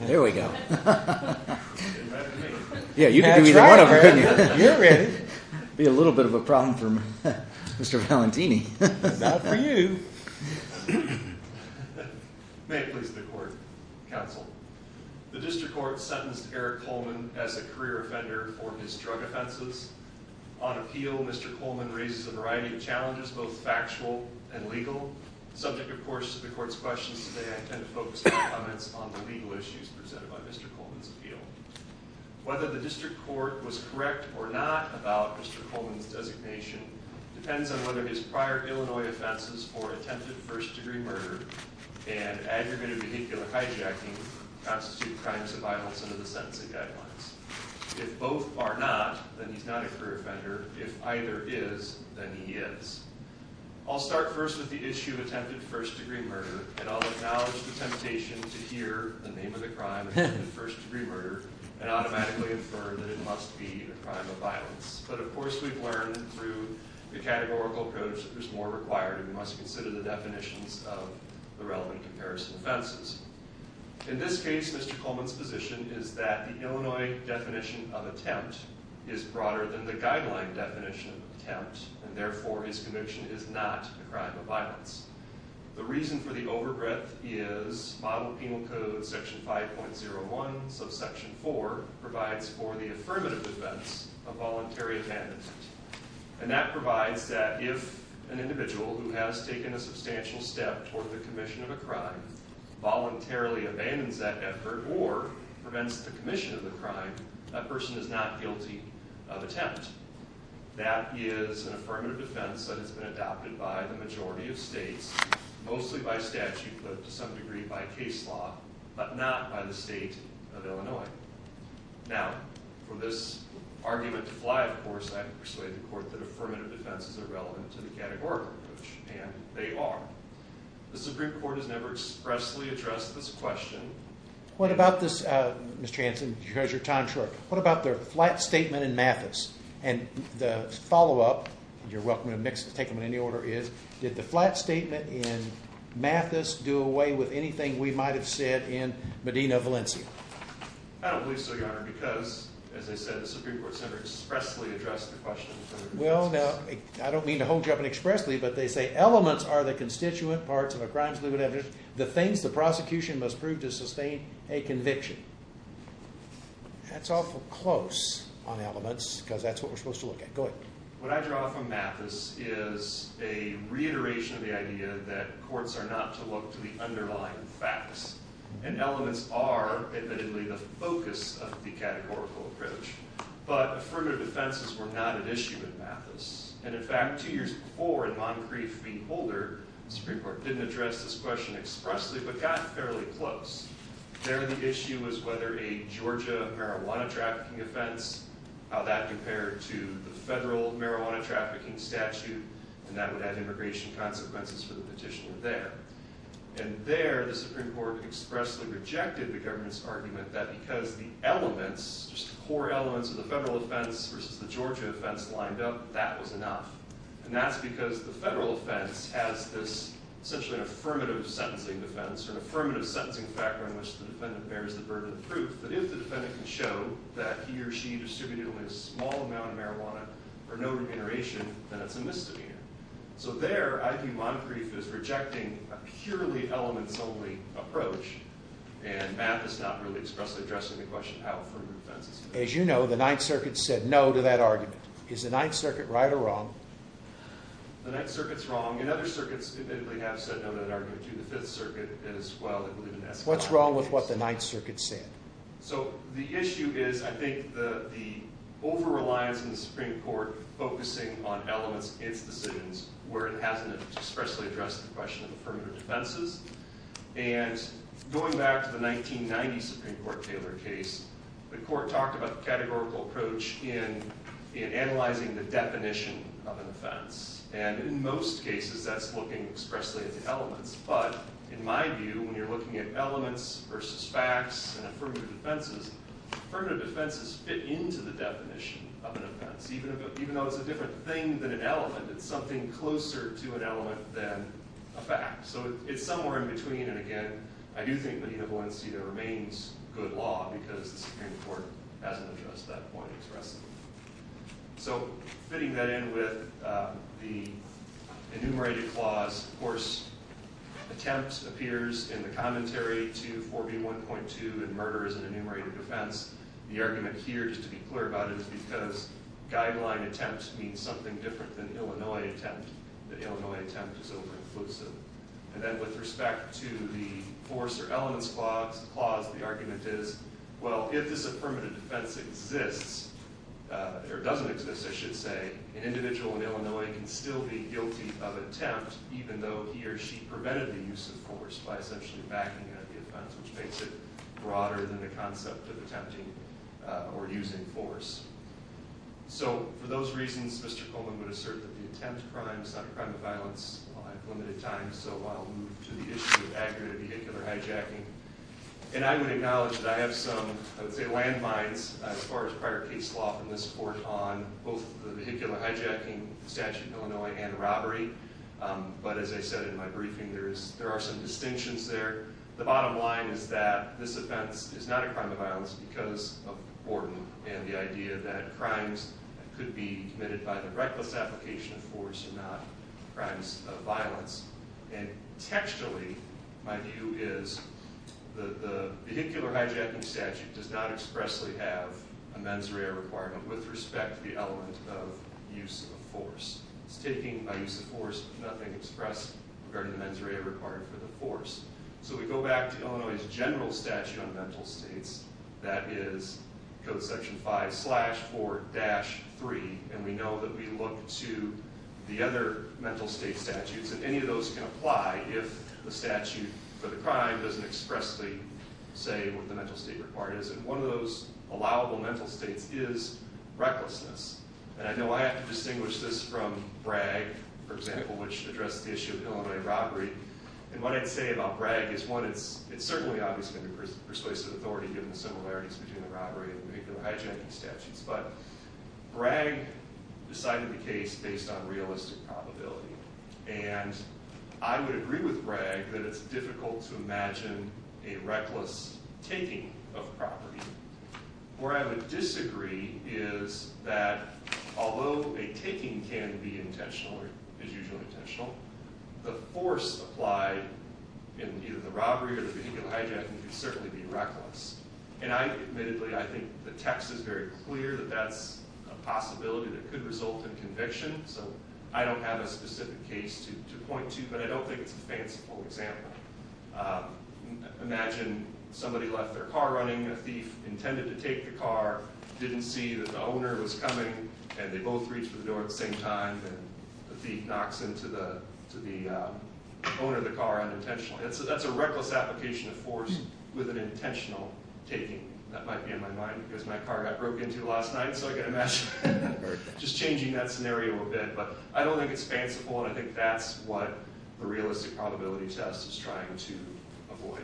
There we go. Yeah, you can do either one of them. You're ready. It would be a little bit of a problem for Mr. Valentini. Not for you. May it please the court, counsel. The district court sentenced Eric Coleman as a career offender for his drug offenses. On appeal, Mr. Coleman raises a variety of challenges, both factual and legal. Subject, of course, to the court's questions today, I intend to focus my comments on the legal issues presented by Mr. Coleman's appeal. Whether the district court was correct or not about Mr. Coleman's designation depends on whether his prior Illinois offenses for attempted first degree murder and aggravated vehicular hijacking constitute crimes of violence under the sentencing guidelines. If both are not, then he's not a career offender. If either is, then he is. I'll start first with the issue of attempted first degree murder, and I'll acknowledge the temptation to hear the name of the crime, attempted first degree murder, and automatically infer that it must be a crime of violence. But of course, we've learned through the categorical approach that there's more required, and we must consider the definitions of the relevant comparison offenses. In this case, Mr. Coleman's position is that the Illinois definition of attempt is broader than the guideline definition of attempt, and therefore, his conviction is not a crime of violence. The reason for the overbreadth is model penal code section 5.01 subsection 4 provides for the affirmative defense of voluntary abandonment. And that provides that if an individual who has taken a substantial step toward the commission of a crime voluntarily abandons that effort or prevents the commission of the crime, that person is not guilty of attempt. That is an affirmative defense that has been adopted by the majority of states, mostly by statute, but to some degree by case law, but not by the state of Illinois. Now, for this argument to fly, of course, I can persuade the court that affirmative defenses are relevant to the categorical approach, and they are. The Supreme Court has never expressly addressed this question. What about the flat statement in Mathis? And the follow-up, and you're welcome to take them in any order, is did the flat statement in Mathis do away with anything we might have said in Medina, Valencia? I don't believe so, Your Honor, because, as I said, the Supreme Court has never expressly addressed the question. Well, now, I don't mean to hold you up and expressly, but they say elements are the constituent parts of a crime's limited evidence, the things the prosecution must prove to sustain a conviction. That's awful close on elements, because that's what we're supposed to look at. Go ahead. What I draw from Mathis is a reiteration of the idea that courts are not to look to the underlying facts, and elements are, admittedly, the focus of the categorical approach, but affirmative defenses were not an issue in Mathis. And, in fact, two years before, in Moncrief v. Holder, the Supreme Court didn't address this question expressly, but got fairly close. There, the issue was whether a Georgia marijuana trafficking offense, how that compared to the federal marijuana trafficking statute, and that would have immigration consequences for the petitioner there. And there, the Supreme Court expressly rejected the government's argument that because the elements, just the core elements of the federal offense versus the Georgia offense lined up, that was enough. And that's because the federal offense has this, essentially, affirmative sentencing defense, or an affirmative sentencing factor in which the defendant bears the burden of proof, that if the defendant can show that he or she distributed only a small amount of marijuana for no remuneration, then it's a misdemeanor. So, there, I view Moncrief as rejecting a purely elements-only approach, and Mathis not really expressly addressing the question, how affirmative defense is. As you know, the Ninth Circuit said no to that argument. Is the Ninth Circuit right or wrong? The Ninth Circuit's wrong, and other circuits admittedly have said no to that argument, too. The Fifth Circuit, as well. What's wrong with what the Ninth Circuit said? So, the issue is, I think, the over-reliance in the Supreme Court focusing on elements in its decisions where it hasn't expressly addressed the question of affirmative defenses. And going back to the 1990 Supreme Court Taylor case, the court talked about the categorical approach in analyzing the definition of an offense. And, in most cases, that's looking expressly at the elements. But, in my view, when you're looking at elements versus facts and affirmative defenses, affirmative defenses fit into the definition of an offense. Even though it's a different thing than an element, it's something closer to an element than a fact. So, it's somewhere in between, and, again, I do think that Enable NCDA remains good law because the Supreme Court hasn't addressed that point expressly. So, fitting that in with the enumerated clause, of course, attempt appears in the commentary to 4B1.2 in murder as an enumerated defense. The argument here, just to be clear about it, is because guideline attempt means something different than Illinois attempt, that Illinois attempt is over-inclusive. And then, with respect to the force or elements clause, the argument is, well, if this affirmative defense exists, or doesn't exist, I should say, an individual in Illinois can still be guilty of attempt, even though he or she prevented the use of force by essentially backing up the offense, which makes it broader than the concept of attempting or using force. So, for those reasons, Mr. Coleman would assert that the attempt crime is not a crime of violence. I have limited time, so I'll move to the issue of aggravated vehicular hijacking. And I would acknowledge that I have some, I would say, landmines as far as prior case law from this Court on both the vehicular hijacking statute in Illinois and robbery. But, as I said in my briefing, there are some distinctions there. The bottom line is that this offense is not a crime of violence because of Borden and the idea that crimes that could be committed by the reckless application of force are not crimes of violence. And textually, my view is, the vehicular hijacking statute does not expressly have a mens rea requirement with respect to the element of use of force. It's taking a use of force with nothing expressed regarding the mens rea requirement for the force. If we go back to Illinois' general statute on mental states, that is Code Section 5-4-3, and we know that we look to the other mental state statutes, and any of those can apply if the statute for the crime doesn't expressly say what the mental state requirement is. And one of those allowable mental states is recklessness. And I know I have to distinguish this from BRAG, for example, which addressed the issue of Illinois robbery. And what I'd say about BRAG is, one, it's certainly obviously under persuasive authority given the similarities between the robbery and vehicular hijacking statutes. But BRAG decided the case based on realistic probability. And I would agree with BRAG that it's difficult to imagine a reckless taking of property. Where I would disagree is that although a taking can be intentional, or is usually intentional, the force applied in either the robbery or the vehicular hijacking can certainly be reckless. And I admittedly, I think the text is very clear that that's a possibility that could result in conviction. So I don't have a specific case to point to, but I don't think it's a fanciful example. Imagine somebody left their car running, a thief intended to take the car, didn't see that the owner was coming, and they both reach for the door at the same time, and the thief knocks into the owner of the car unintentionally. That's a reckless application of force with an intentional taking. That might be on my mind because my car got broke into last night, so I've got to imagine just changing that scenario a bit. But I don't think it's fanciful, and I think that's what the realistic probability test is trying to avoid.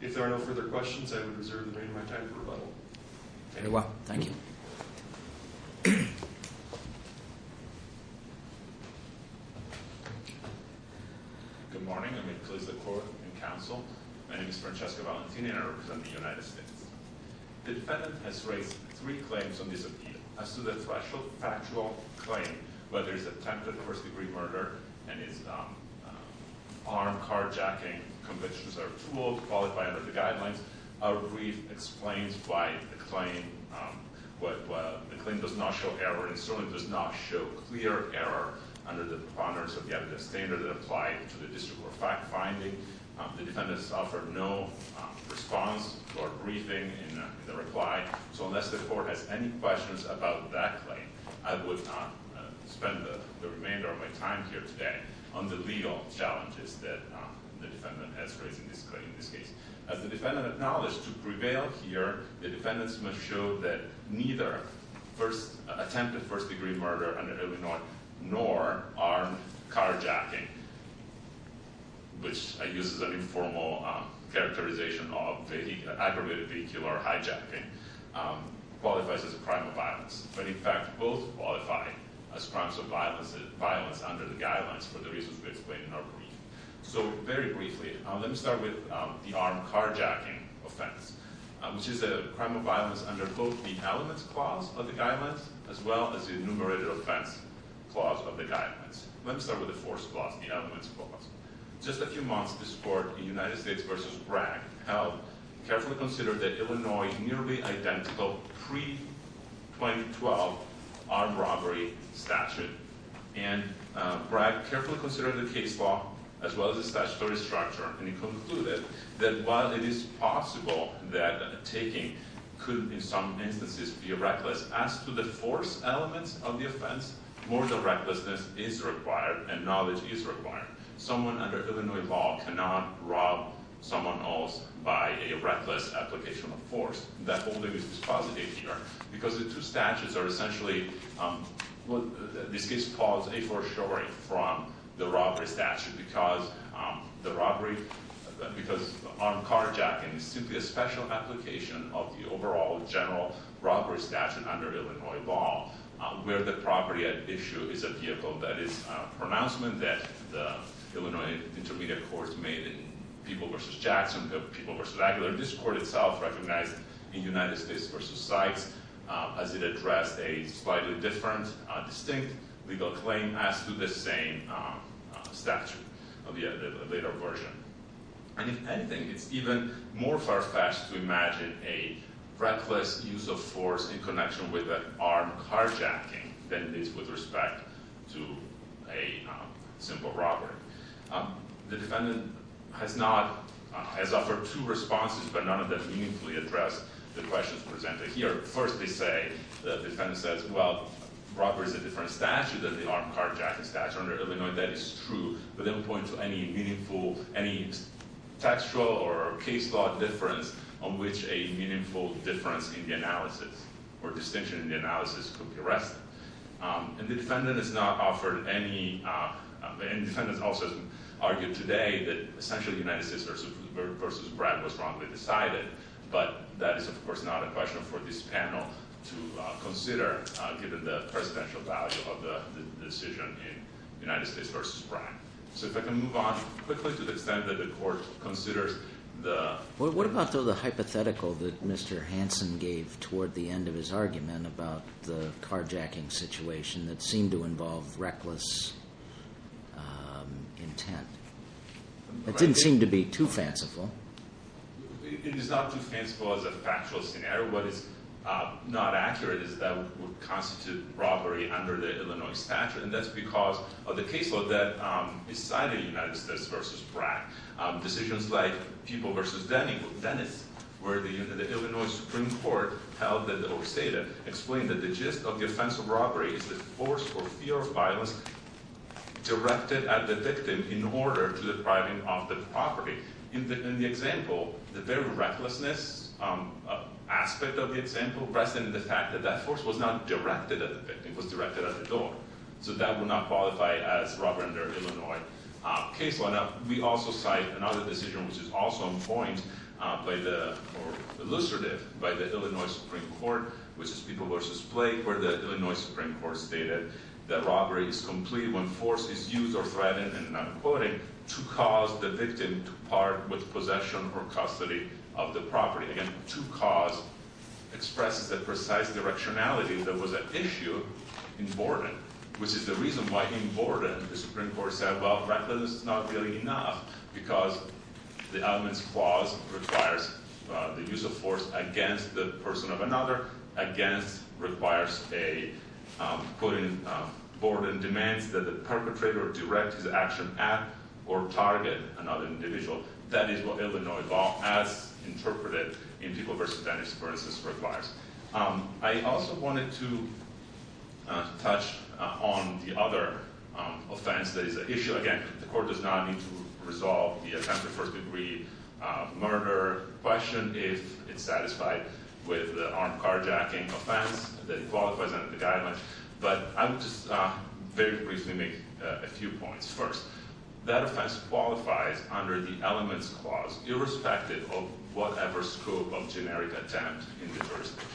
If there are no further questions, I would reserve the remainder of my time for rebuttal. Very well. Thank you. Good morning. I'm Nicholas LaCour, in counsel. My name is Francesco Valentini, and I represent the United States. The defendant has raised three claims on this appeal. As to the threshold factual claim, whether it's attempted first-degree murder, and is armed carjacking convictions are too old to qualify under the guidelines, our brief explains why the claim does not show error, and certainly does not show clear error under the standards that apply to the district court finding. The defendant has offered no response to our briefing in the reply, so unless the court has any questions about that claim, I would spend the remainder of my time here today on the legal challenges that the defendant has raised in this case. As the defendant acknowledged, to prevail here, the defendant must show that neither attempted first-degree murder under Illinois, nor armed carjacking, which I use as an informal characterization of aggravated vehicle or hijacking, qualifies as a crime of violence. But in fact, both qualify as crimes of violence under the guidelines for the reasons we explain in our brief. So, very briefly, let me start with the armed carjacking offense, which is a crime of violence under both the elements clause of the guidelines, as well as the enumerated offense clause of the guidelines. Let me start with the force clause, the elements clause. Just a few months before the United States versus Bragg held, carefully considered the Illinois nearly identical pre-2012 armed robbery statute, and Bragg carefully considered the case law, as well as the statutory structure, and he concluded that while it is possible that taking could in some instances be reckless, as to the force elements of the offense, more than recklessness is required, and knowledge is required. Someone under Illinois law cannot rob someone else by a reckless application of force. That whole thing is dispositive here, because the two statutes are essentially, this case calls a for sure from the robbery statute, because the robbery, because armed carjacking is simply a special application of the overall general robbery statute under Illinois law, where the property at issue is a vehicle that is pronouncement that the Illinois Intermediate Court made in People versus Jackson, the People versus Aguilar, this court itself recognized in United States versus Sykes, as it addressed a slightly different, distinct legal claim, as to the same statute of the later version. And if anything, it's even more far-fetched to imagine a reckless use of force in connection with an armed carjacking than it is with respect to a simple robbery. The defendant has not, has offered two responses, but none of them meaningfully address the questions presented here. First they say, the defendant says, well, robbery is a different statute than the armed carjacking statute under Illinois, that is true, but they don't point to any meaningful, any textual or case law difference on which a meaningful difference in the analysis, or distinction in the analysis could be arrested. And the defendant has not offered any, and the defendant also argued today that essentially United States versus Brad was wrongly decided, but that is of course not a question for this panel to consider, given the presidential value of the decision in United States versus Brad. So if I can move on quickly to the extent that the court considers the- What about the hypothetical that Mr. Hanson gave toward the end of his argument about the carjacking situation that seemed to involve reckless intent? It didn't seem to be too fanciful. It is not too fanciful as a factual scenario. What is not accurate is that it would constitute robbery under the Illinois statute, and that's because of the case law that decided United States versus Brad. Decisions like People versus Denny, or Dennis, where the Illinois Supreme Court held that, or stated, explained that the gist of the offense of robbery is the force or fear of violence directed at the victim in order to deprive him of the property. In the example, the very recklessness aspect of the example rests in the fact that that force was not directed at the victim. It was directed at the door. So that would not qualify as robbery under Illinois case law. We also cite another decision, which is also in point, or elucidated by the Illinois Supreme Court, which is People versus Blake, where the Illinois Supreme Court stated that robbery is complete when force is used or threatened, and I'm quoting, to cause the victim to part with possession or custody of the property. Again, to cause expresses the precise directionality that was at issue in Borden, which is the reason why in Borden the Supreme Court said, well, recklessness is not really enough, because the elements clause requires the use of force against the person of another, against requires a, quoting Borden, demands that the perpetrator direct his action at or target another individual. That is what Illinois law, as interpreted in People versus Denny, for instance, requires. I also wanted to touch on the other offense that is at issue. Again, the court does not need to resolve the attempted first degree murder question if it's satisfied with the armed carjacking offense that qualifies under the guidelines. But I would just very briefly make a few points. First, that offense qualifies under the elements clause, irrespective of whatever scope of generic attempt in the jurisdiction.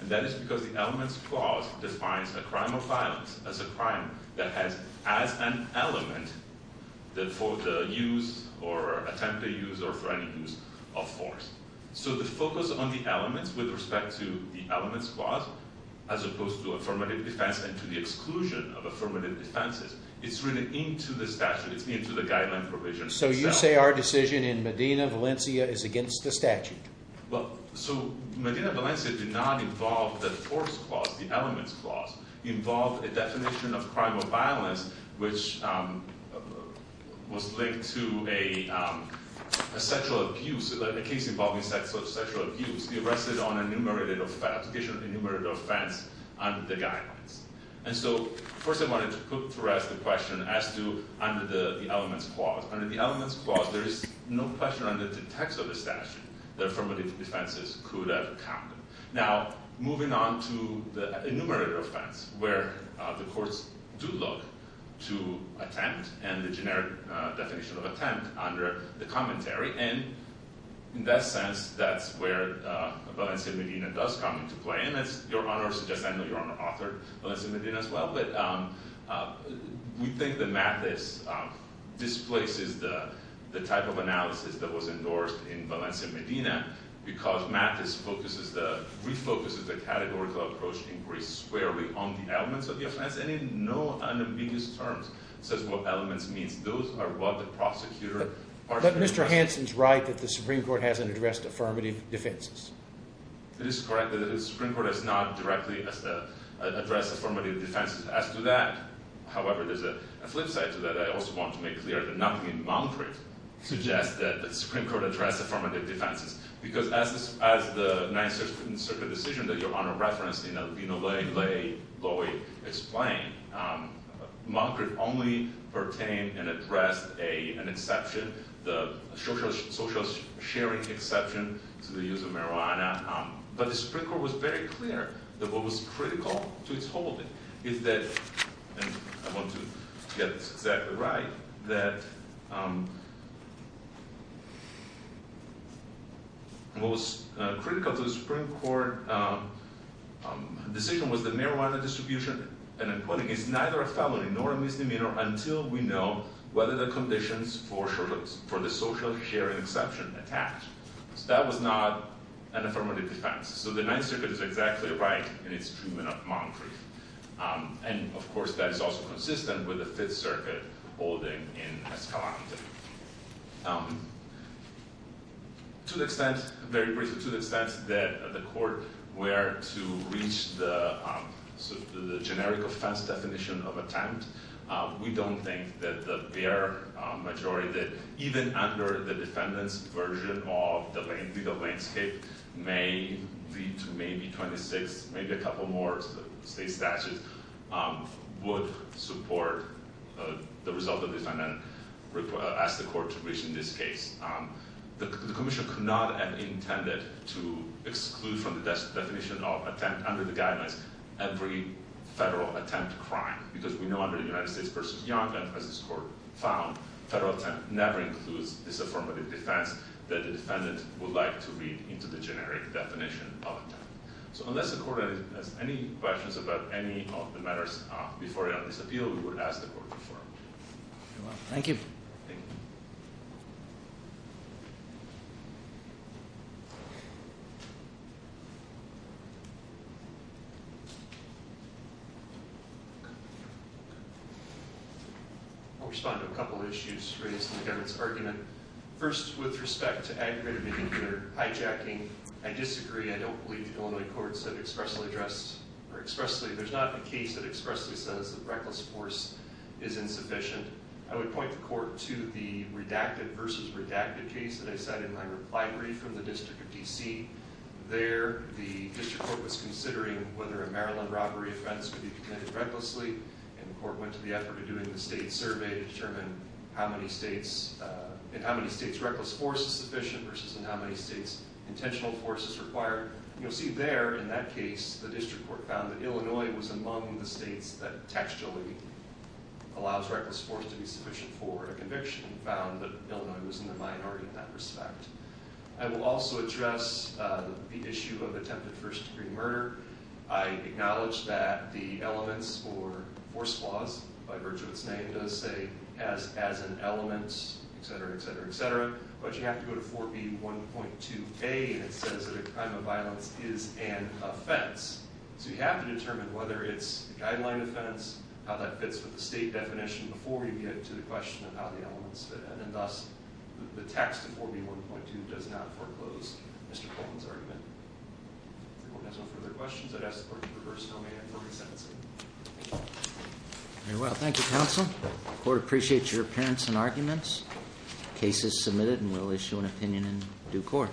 And that is because the elements clause defines a crime of violence as a crime that has as an element for the use or attempted use or for any use of force. So the focus on the elements with respect to the elements clause, as opposed to affirmative defense and to the exclusion of affirmative defenses, it's really into the statute, it's into the guideline provision itself. So you say our decision in Medina, Valencia is against the statute? Well, so Medina, Valencia did not involve the force clause, the elements clause. It involved a definition of crime of violence which was linked to a sexual abuse, a case involving sexual abuse. It rested on an enumerated offense under the guidelines. And so first I wanted to put to rest the question as to under the elements clause. Under the elements clause, there is no question under the text of the statute that affirmative defenses could have counted. Now, moving on to the enumerated offense where the courts do look to attempt and the generic definition of attempt under the commentary. And in that sense, that's where Valencia Medina does come into play. And as Your Honor suggests, I know Your Honor authored Valencia Medina as well, but we think that Mathis displaces the type of analysis that was endorsed in Valencia Medina because Mathis refocuses the categorical approach inquiry squarely on the elements of the offense and in no unambiguous terms says what elements means. Those are what the prosecutor… But Mr. Hansen's right that the Supreme Court hasn't addressed affirmative defenses. It is correct that the Supreme Court has not directly addressed affirmative defenses. As to that, however, there's a flip side to that. I also want to make clear that nothing in Montclair suggests that the Supreme Court addressed affirmative defenses. Because as the Ninth Circuit decision that Your Honor referenced in Albino Ley, Lowy explained, Montclair only pertained and addressed an exception, the social sharing exception to the use of marijuana. But the Supreme Court was very clear that what was critical to its holding is that, and I want to get this exactly right, that what was critical to the Supreme Court decision was the marijuana distribution and appointing is neither a felony nor a misdemeanor until we know whether the conditions for the social sharing exception attacked. So that was not an affirmative defense. So the Ninth Circuit is exactly right in its treatment of Montclair. And, of course, that is also consistent with the Fifth Circuit holding in Escalante. To the extent, very briefly, to the extent that the court were to reach the generic offense definition of attempt, we don't think that the bare majority, that even under the defendant's version of the legal landscape, may lead to maybe 26, maybe a couple more state statutes, would support the result of the defendant as the court reached in this case. The commission could not have intended to exclude from the definition of attempt under the guidelines every federal attempt crime. Because we know under the United States v. Young, as this court found, federal attempt never includes this affirmative defense that the defendant would like to read into the generic definition of attempt. So unless the court has any questions about any of the matters before this appeal, we would ask the court to perform. Thank you. I'll respond to a couple of issues raised in Kevin's argument. First, with respect to aggravated behavior, hijacking, I disagree. I don't believe the Illinois courts have expressly addressed, or expressly, there's not a case that expressly says the reckless force is insufficient. I would point the court to the redacted v. redacted case that I said in my reply brief from the District of D.C. There, the District Court was considering whether a Maryland robbery offense could be committed recklessly, and the court went to the effort of doing the state survey to determine in how many states reckless force is sufficient versus in how many states intentional force is required. You'll see there, in that case, the District Court found that Illinois was among the states that textually allows reckless force to be sufficient for a conviction, and found that Illinois was in the minority in that respect. I will also address the issue of attempted first-degree murder. I acknowledge that the elements for force clause, by virtue of its name, as an element, etc., etc., etc., but you have to go to 4B1.2a, and it says that a crime of violence is an offense. So you have to determine whether it's a guideline offense, how that fits with the state definition, before you get to the question of how the elements fit in. And thus, the text of 4B1.2 does not foreclose Mr. Colvin's argument. If everyone has no further questions, I'd ask the court to reverse domain and move to sentencing. Very well. Thank you, counsel. The court appreciates your appearance and arguments. The case is submitted, and we'll issue an opinion in due course.